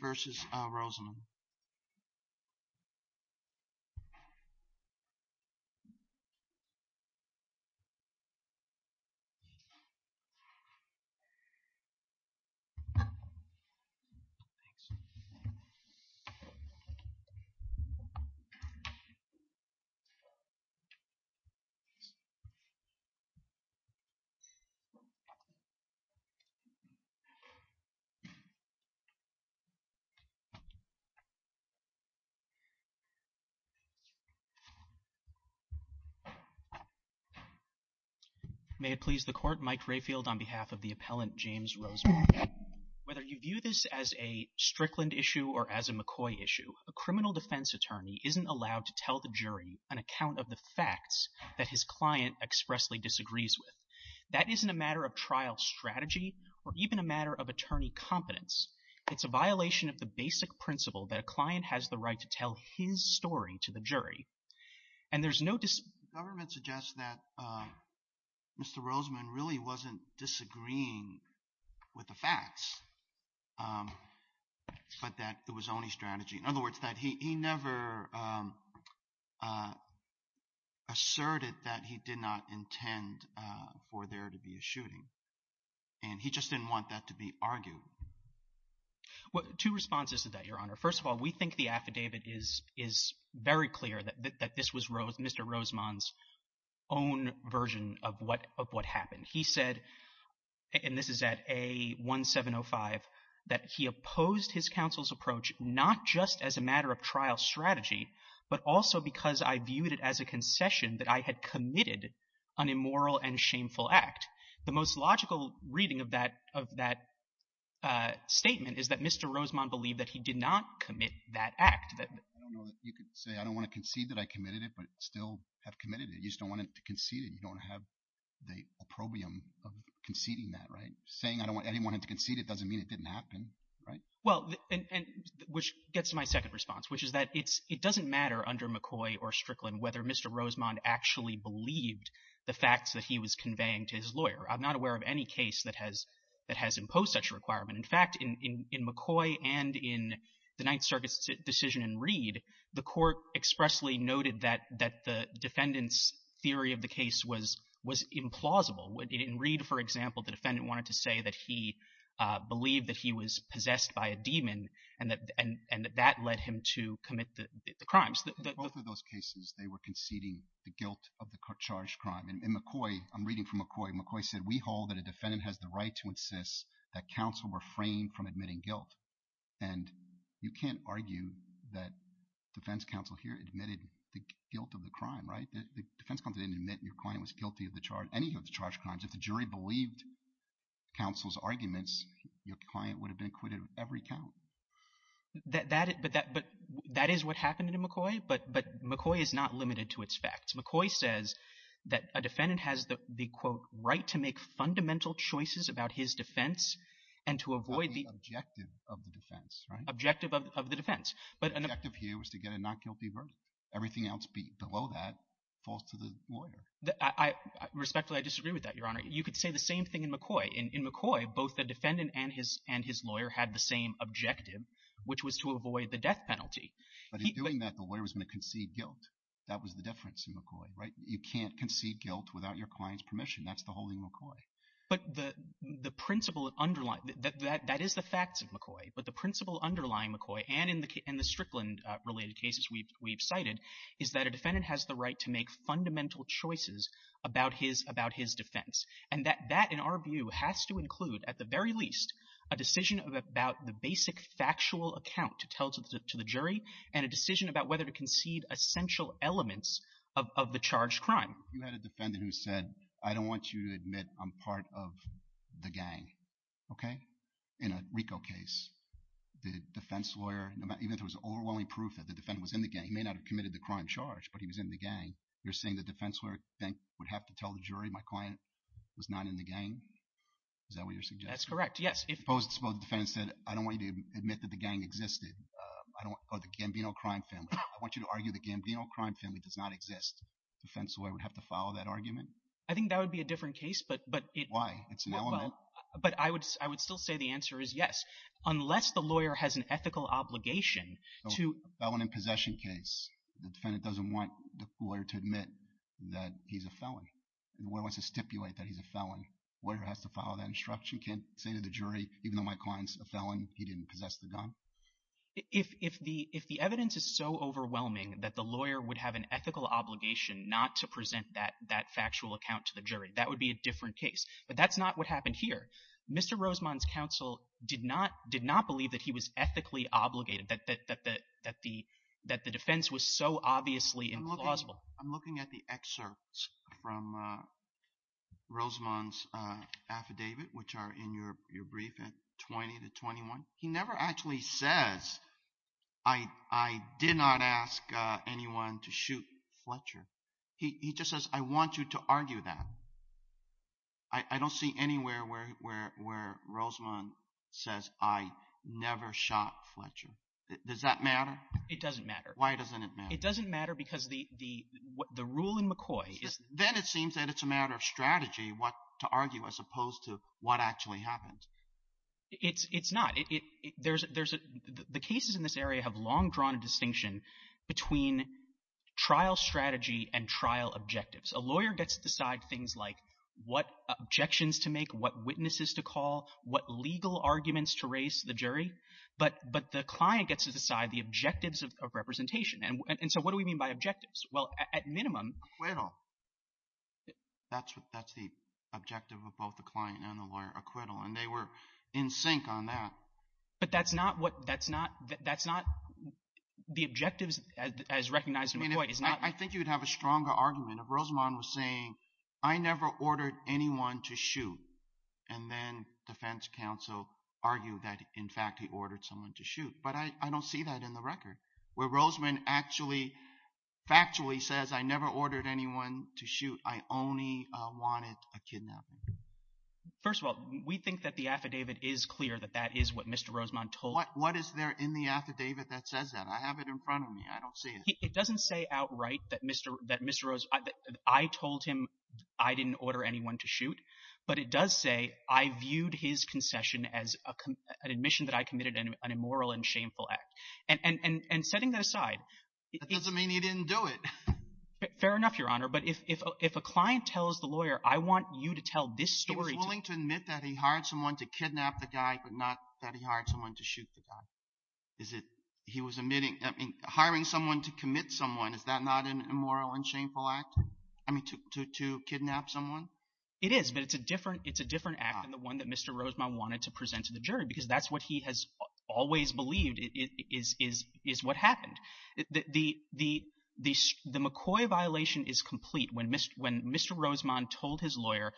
versus the jury. May it please the court. Mike Rayfield on behalf of the appellant, James Rosenberg. Whether you view this as a Strickland issue or as a McCoy issue, a criminal defense attorney isn't allowed to tell the jury an account of the facts that his client expressly disagrees with. That isn't a matter of trial strategy or even a matter of attorney competence. It's a violation of the basic principle that a client has the right to tell his story to the jury. And there's no dis- The government suggests that Mr. Roseman really wasn't disagreeing with the facts, but that it was only strategy. In other words, that he never asserted that he did not intend for there to be a shooting. And he just didn't want that to be argued. Two responses to that, Your Honor. First of all, we think the affidavit is very clear that this was Mr. Roseman's own version of what happened. He said, and this is at A1705, that he opposed his counsel's approach not just as a matter of trial strategy, but also because I viewed it as a concession that I had committed an immoral and shameful act. The most logical reading of that statement is that Mr. Roseman believed that he did not commit that act. I don't know that you could say, I don't want to concede that I committed it, but still have committed it. You just don't want to concede it. You don't want to have the opprobrium of conceding that, right? Saying I didn't want him to concede it doesn't mean it didn't happen, right? Well, which gets to my second response, which is that it doesn't matter under McCoy or Strickland whether Mr. Roseman actually believed the facts that he was conveying to his lawyer. I'm not aware of any case that has imposed such a requirement. In fact, in McCoy and in the Ninth Circuit's decision in Reed, the court expressly noted that the defendant's theory of the case was implausible. In Reed, for example, the defendant wanted to say that he believed that he was possessed by a demon and that that led him to commit the crimes. In both of those cases, they were conceding the guilt of the charged crime. In McCoy, I'm reading from McCoy, McCoy said, we hold that a defendant has the right to insist that counsel refrain from admitting guilt. And you can't argue that defense counsel here admitted the guilt of the crime, right? The defense counsel didn't admit your client was guilty of the charge, any of the charged crimes. If the jury believed counsel's arguments, your client would have been acquitted of every count. But that is what happened in McCoy, but McCoy is not limited to its facts. McCoy says that a defendant has the, quote, right to make fundamental choices about his defense and to avoid the objective of the defense, right? Objective of the defense. The objective here was to get a not guilty verdict. Everything else below that falls to the lawyer. Respectfully, I disagree with that, Your Honor. You could say the same thing in McCoy. In McCoy, both the defendant and his lawyer had the same objective, which was to avoid the death penalty. But in doing that, the lawyer was going to concede guilt. That was the difference in McCoy, right? You can't concede guilt without your client's permission. That's the whole thing in McCoy. But the principle underlying, that is the facts of McCoy, but the principle underlying McCoy and in the Strickland-related cases we've cited is that a defendant has the right to make fundamental choices about his defense. And that, in our view, has to include, at the very least, a decision about the basic factual account to tell to the jury and a decision about whether to concede essential elements of the charged crime. You had a defendant who said, I don't want you to admit I'm part of the gang, okay? In a RICO case, the defense lawyer, even if there was overwhelming proof that the defendant was in the gang, he may not have committed the crime charge, but he was in the gang. You're saying the defense lawyer would have to tell the jury my client was not in the gang? Is that what you're suggesting? That's correct. Yes. Suppose the defendant said, I don't want you to admit that the gang existed, or the Gambino crime family. I want you to argue the Gambino crime family does not exist. The defense lawyer would have to follow that argument? I think that would be a different case, but it... Why? It's an element. But I would still say the answer is yes, unless the lawyer has an ethical obligation to... The defendant doesn't want the lawyer to admit that he's a felon, the lawyer wants to stipulate that he's a felon. The lawyer has to follow that instruction, can't say to the jury, even though my client's a felon, he didn't possess the gun? If the evidence is so overwhelming that the lawyer would have an ethical obligation not to present that factual account to the jury, that would be a different case, but that's not what happened here. Mr. Rosemond's counsel did not believe that he was ethically obligated, that the defense was so obviously implausible. I'm looking at the excerpts from Rosemond's affidavit, which are in your brief at 20 to 21. He never actually says, I did not ask anyone to shoot Fletcher. He just says, I want you to argue that. I don't see anywhere where Rosemond says, I never shot Fletcher. Does that matter? It doesn't matter. Why doesn't it matter? It doesn't matter because the rule in McCoy is... Then it seems that it's a matter of strategy to argue as opposed to what actually happened. It's not. The cases in this area have long drawn a distinction between trial strategy and trial objectives. A lawyer gets to decide things like what objections to make, what witnesses to call, what legal arguments to raise to the jury, but the client gets to decide the objectives of representation. What do we mean by objectives? At minimum... Acquittal. That's the objective of both the client and the lawyer, acquittal, and they were in sync But that's not the objectives as recognized in McCoy. I think you'd have a stronger argument if Rosemond was saying, I never ordered anyone to shoot, and then defense counsel argued that in fact he ordered someone to shoot. But I don't see that in the record where Rosemond actually factually says, I never ordered anyone to shoot. I only wanted a kidnapping. First of all, we think that the affidavit is clear that that is what Mr. Rosemond told us. What is there in the affidavit that says that? I have it in front of me. I don't see it. It doesn't say outright that I told him I didn't order anyone to shoot, but it does say I viewed his concession as an admission that I committed an immoral and shameful act. And setting that aside... That doesn't mean he didn't do it. Fair enough, Your Honor. But if a client tells the lawyer, I want you to tell this story. He was willing to admit that he hired someone to kidnap the guy, but not that he hired someone to shoot the guy. Is it, he was admitting, hiring someone to commit someone, is that not an immoral and shameful act? I mean, to kidnap someone? It is, but it's a different act than the one that Mr. Rosemond wanted to present to the jury, because that's what he has always believed is what happened. The McCoy violation is complete. When Mr. Rosemond told his lawyer,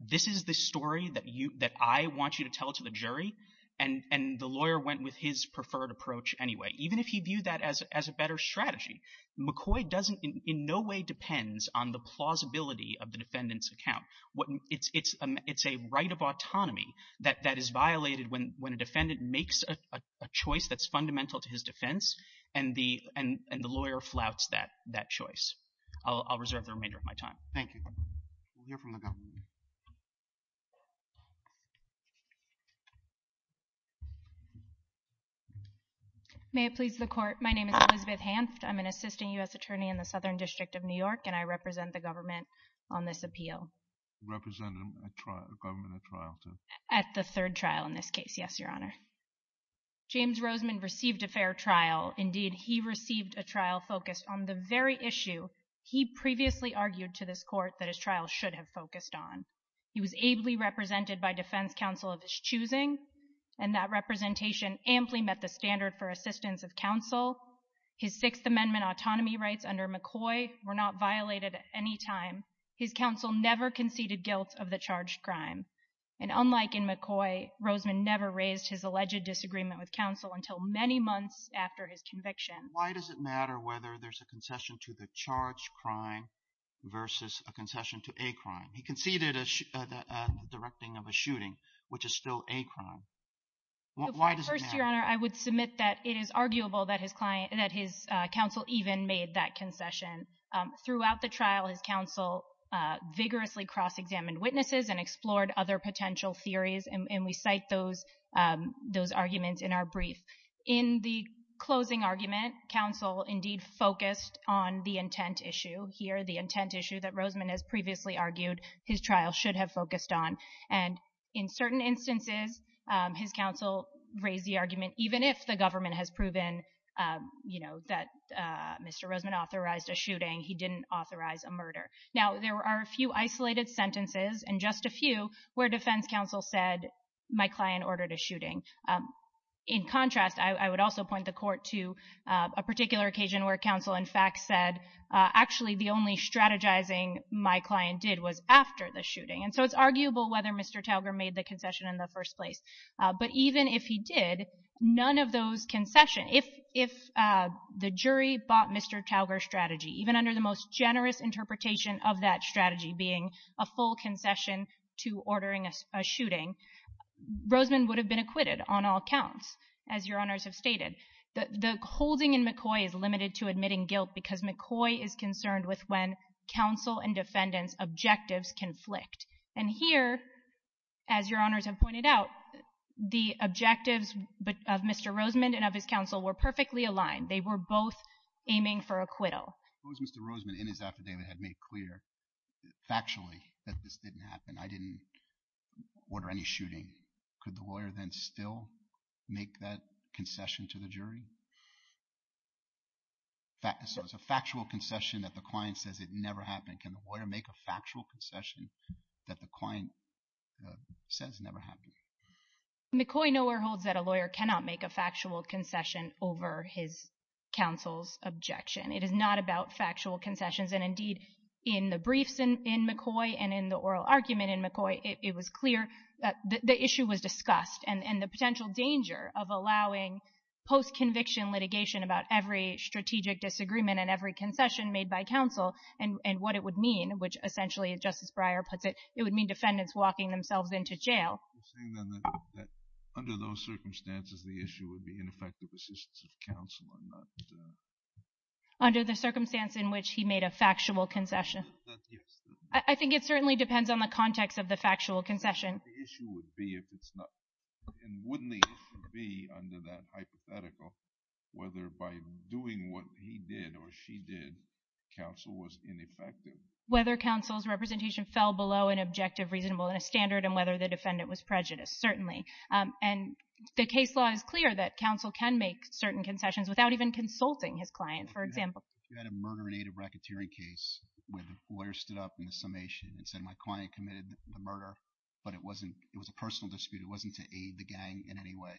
this is the story that I want you to tell to the jury, and the lawyer went with his preferred approach anyway, even if he viewed that as a better strategy. McCoy doesn't, in no way depends on the plausibility of the defendant's account. It's a right of autonomy that is violated when a defendant makes a choice that's fundamental to his defense, and the lawyer flouts that choice. I'll reserve the remainder of my time. Thank you. We'll hear from the government. May it please the Court, my name is Elizabeth Hanft, I'm an assistant U.S. attorney in the Southern District of New York, and I represent the government on this appeal. Representing the government at trial, too. At the third trial in this case, yes, Your Honor. James Rosemond received a fair trial. Indeed, he received a trial focused on the very issue he previously argued to this Court that his trial should have focused on. He was ably represented by defense counsel of his choosing, and that representation amply met the standard for assistance of counsel. His Sixth Amendment autonomy rights under McCoy were not violated at any time. His counsel never conceded guilt of the charged crime. And unlike in McCoy, Rosemond never raised his alleged disagreement with counsel until many months after his conviction. Why does it matter whether there's a concession to the charged crime versus a concession to a crime? He conceded the directing of a shooting, which is still a crime. Why does it matter? First, Your Honor, I would submit that it is arguable that his counsel even made that concession. Throughout the trial, his counsel vigorously cross-examined witnesses and explored other potential theories, and we cite those arguments in our brief. In the closing argument, counsel indeed focused on the intent issue here, the intent issue that Rosemond has previously argued his trial should have focused on. And in certain instances, his counsel raised the argument, even if the government has proven, you know, that Mr. Rosemond authorized a shooting, he didn't authorize a murder. Now, there are a few isolated sentences, and just a few, where defense counsel said, my client ordered a shooting. In contrast, I would also point the Court to a particular occasion where counsel, in the only strategizing my client did was after the shooting. And so it's arguable whether Mr. Talger made the concession in the first place. But even if he did, none of those concessions, if the jury bought Mr. Talger's strategy, even under the most generous interpretation of that strategy being a full concession to ordering a shooting, Rosemond would have been acquitted on all counts, as Your Honors have stated. The holding in McCoy is limited to admitting guilt because McCoy is concerned with when counsel and defendant's objectives conflict. And here, as Your Honors have pointed out, the objectives of Mr. Rosemond and of his counsel were perfectly aligned. They were both aiming for acquittal. Suppose Mr. Rosemond, in his affidavit, had made clear, factually, that this didn't happen. I didn't order any shooting. Could the lawyer then still make that concession to the jury? So it's a factual concession that the client says it never happened. Can the lawyer make a factual concession that the client says never happened? McCoy nowhere holds that a lawyer cannot make a factual concession over his counsel's objection. It is not about factual concessions. And indeed, in the briefs in McCoy and in the oral argument in McCoy, it was clear that the issue was discussed and the potential danger of allowing post-conviction litigation about every strategic disagreement and every concession made by counsel and what it would mean, which essentially, as Justice Breyer puts it, it would mean defendants walking themselves into jail. You're saying then that under those circumstances, the issue would be ineffective assistance of counsel and not... Under the circumstance in which he made a factual concession. Yes. I think it certainly depends on the context of the factual concession. But the issue would be if it's not, and wouldn't the issue be under that hypothetical, whether by doing what he did or she did, counsel was ineffective. Whether counsel's representation fell below an objective, reasonable, and a standard and whether the defendant was prejudiced, certainly. And the case law is clear that counsel can make certain concessions without even consulting his client. For example... If you had a murder in aid of racketeering case where the lawyer stood up in the summation and said, my client committed the murder, but it was a personal dispute, it wasn't to aid the gang in any way,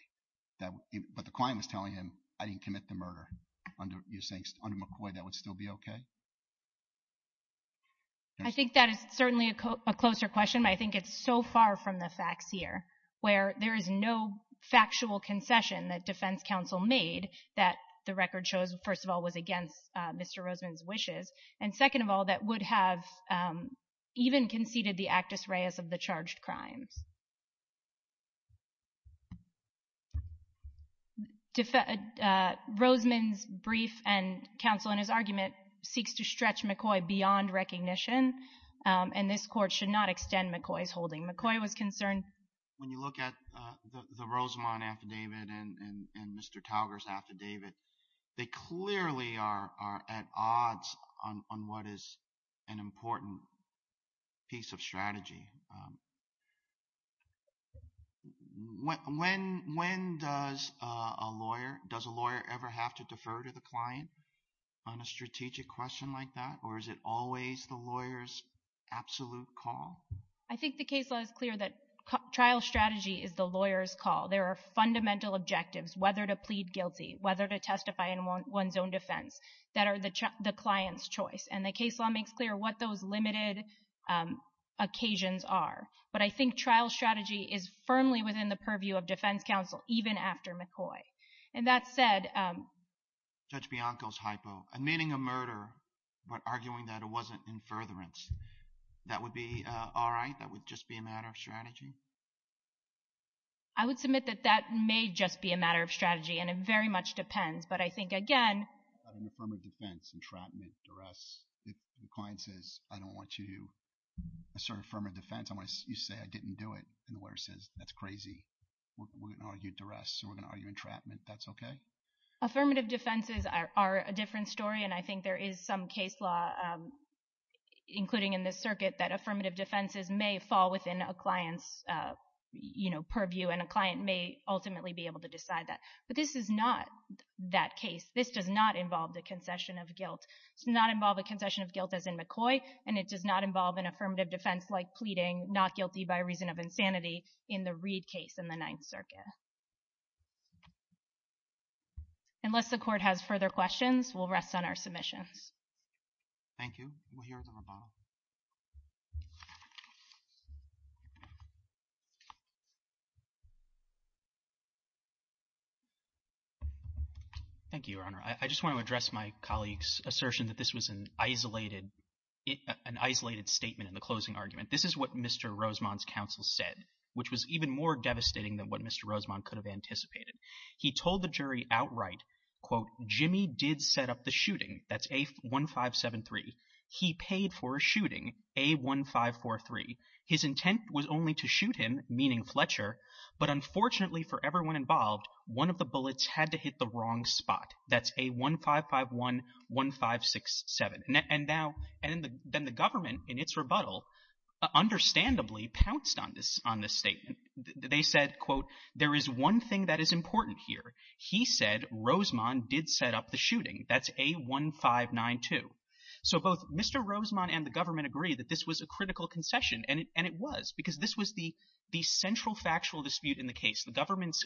but the client was telling him, I didn't commit the murder. Under McCoy, that would still be okay? I think that is certainly a closer question, but I think it's so far from the facts here where there is no factual concession that defense counsel made that the record shows, and second of all, that would have even conceded the actus reus of the charged crimes. Rosamond's brief and counsel in his argument seeks to stretch McCoy beyond recognition, and this court should not extend McCoy's holding. McCoy was concerned... When you look at the Rosamond affidavit and Mr. Talger's affidavit, they clearly are at a different level on what is an important piece of strategy. When does a lawyer... Does a lawyer ever have to defer to the client on a strategic question like that, or is it always the lawyer's absolute call? I think the case law is clear that trial strategy is the lawyer's call. There are fundamental objectives, whether to plead guilty, whether to testify in one's own defense, that are the client's choice, and the case law makes clear what those limited occasions are, but I think trial strategy is firmly within the purview of defense counsel even after McCoy, and that said... Judge Bianco's hypo, admitting a murder but arguing that it wasn't in furtherance, that would be all right? That would just be a matter of strategy? I would submit that that may just be a matter of strategy, and it very much depends, but I think, again... About an affirmative defense, entrapment, duress, if the client says, I don't want you to assert affirmative defense, you say, I didn't do it, and the lawyer says, that's crazy, we're going to argue duress, we're going to argue entrapment, that's okay? Affirmative defenses are a different story, and I think there is some case law, including in this circuit, that affirmative defenses may fall within a client's purview, and a client may ultimately be able to decide that. But this is not that case. This does not involve the concession of guilt. It does not involve a concession of guilt as in McCoy, and it does not involve an affirmative defense like pleading not guilty by reason of insanity in the Reid case in the Ninth Circuit. Unless the court has further questions, we'll rest on our submissions. Thank you. We'll hear from the bottom. Thank you, Your Honor. I just want to address my colleague's assertion that this was an isolated statement in the closing argument. This is what Mr. Rosemond's counsel said, which was even more devastating than what Mr. Rosemond could have anticipated. He told the jury outright, quote, Jimmy did set up the shooting, that's A1573. He paid for a shooting, A1543. His intent was only to shoot him, meaning Fletcher, but unfortunately for everyone involved, one of the bullets had to hit the wrong spot. That's A1551, 1567. And now, then the government in its rebuttal understandably pounced on this statement. They said, quote, there is one thing that is important here. He said Rosemond did set up the shooting. That's A1592. So both Mr. Rosemond and the government agree that this was a critical concession, and it was because this was the central factual dispute in the case. The government's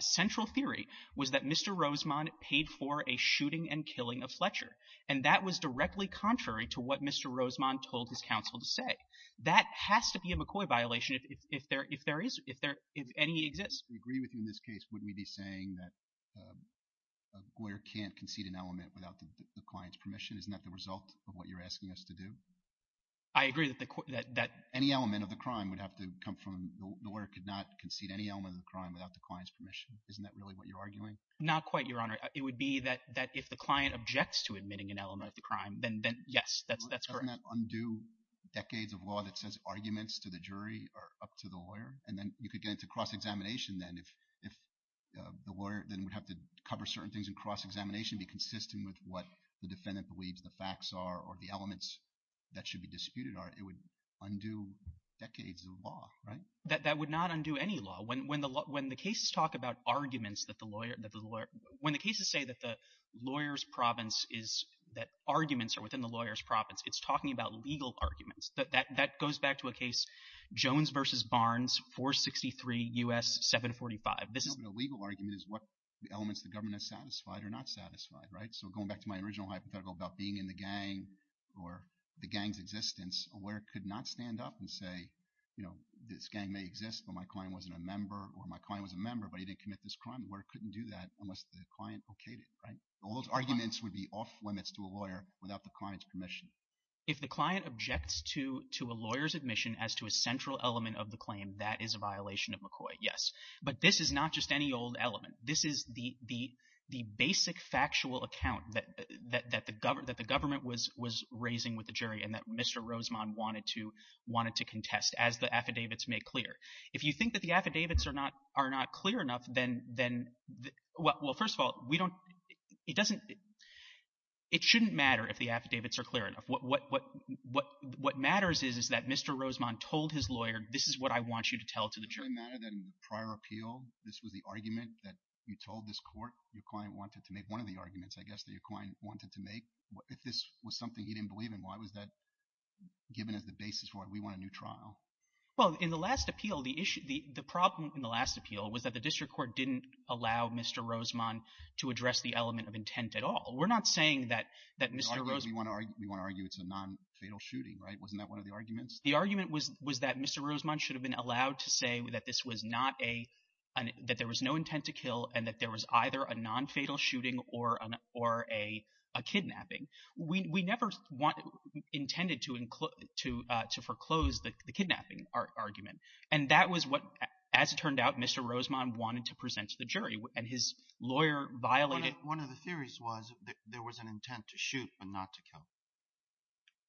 central theory was that Mr. Rosemond paid for a shooting and killing of Fletcher, and that was directly contrary to what Mr. Rosemond told his counsel to say. That has to be a McCoy violation if there is, if there, if any exists. If we agree with you in this case, wouldn't we be saying that a lawyer can't concede an element without the client's permission? Isn't that the result of what you're asking us to do? I agree that the court, that, that. Any element of the crime would have to come from, the lawyer could not concede any element of the crime without the client's permission. Isn't that really what you're arguing? Not quite, Your Honor. It would be that, that if the client objects to admitting an element of the crime, then, then, yes, that's, that's correct. Doesn't that undo decades of law that says arguments to the jury are up to the lawyer? And then you could get into cross-examination then if, if the lawyer then would have to cover certain things in cross-examination, be consistent with what the defendant believes the facts are or the elements that should be disputed are. It would undo decades of law, right? That would not undo any law. When, when the, when the cases talk about arguments that the lawyer, that the lawyer, when the cases say that the lawyer's province is, that arguments are within the lawyer's province, it's talking about legal arguments. That goes back to a case, Jones v. Barnes, 463 U.S. 745. This is- No, but a legal argument is what elements the government has satisfied or not satisfied, right? So going back to my original hypothetical about being in the gang or the gang's existence, where it could not stand up and say, you know, this gang may exist, but my client wasn't a member or my client was a member, but he didn't commit this crime, where it couldn't do that unless the client okayed it, right? Those arguments would be off limits to a lawyer without the client's permission. If the client objects to, to a lawyer's admission as to a central element of the claim, that is a violation of McCoy, yes. But this is not just any old element. This is the, the, the basic factual account that, that, that the government, that the government was, was raising with the jury and that Mr. Rosemond wanted to, wanted to contest as the affidavits make clear. If you think that the affidavits are not, are not clear enough, then, then, well, first of all, we don't, it doesn't, it shouldn't matter if the affidavits are clear enough. What, what, what, what matters is, is that Mr. Rosemond told his lawyer, this is what I want you to tell to the jury. Does it really matter that in the prior appeal, this was the argument that you told this court your client wanted to make, one of the arguments, I guess, that your client wanted to make? If this was something he didn't believe in, why was that given as the basis for, we want a new trial? Well, in the last appeal, the issue, the, the problem in the last appeal was that the district court didn't allow Mr. Rosemond to address the element of intent at all. We're not saying that, that Mr. Rosemond. We want to argue, we want to argue it's a non-fatal shooting, right? Wasn't that one of the arguments? The argument was, was that Mr. Rosemond should have been allowed to say that this was not a, that there was no intent to kill and that there was either a non-fatal shooting or an, or a, a kidnapping. We, we never wanted, intended to include, to, to foreclose the, the kidnapping argument. And that was what, as it turned out, Mr. Rosemond wanted to present to the jury and his lawyer violated. One of the theories was that there was an intent to shoot, but not to kill.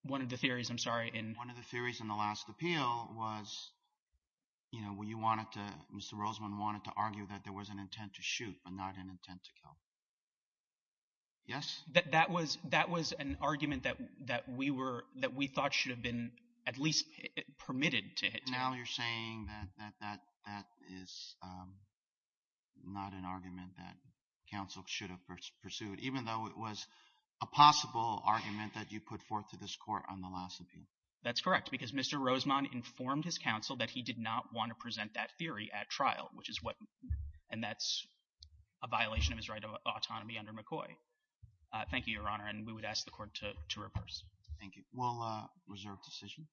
One of the theories, I'm sorry. And one of the theories in the last appeal was, you know, when you want it to, Mr. Rosemond wanted to argue that there was an intent to shoot, but not an intent to kill. Yes. That was, that was an argument that, that we were, that we thought should have been at least permitted to hit. Now you're saying that, that, that, that is not an argument that counsel should have pursued, even though it was a possible argument that you put forth to this court on the last appeal. That's correct. Because Mr. Rosemond informed his counsel that he did not want to present that theory at trial, which is what, and that's a violation of his right of autonomy under McCoy. Thank you, Your Honor. And we would ask the court to reverse. Thank you. We'll reserve decision.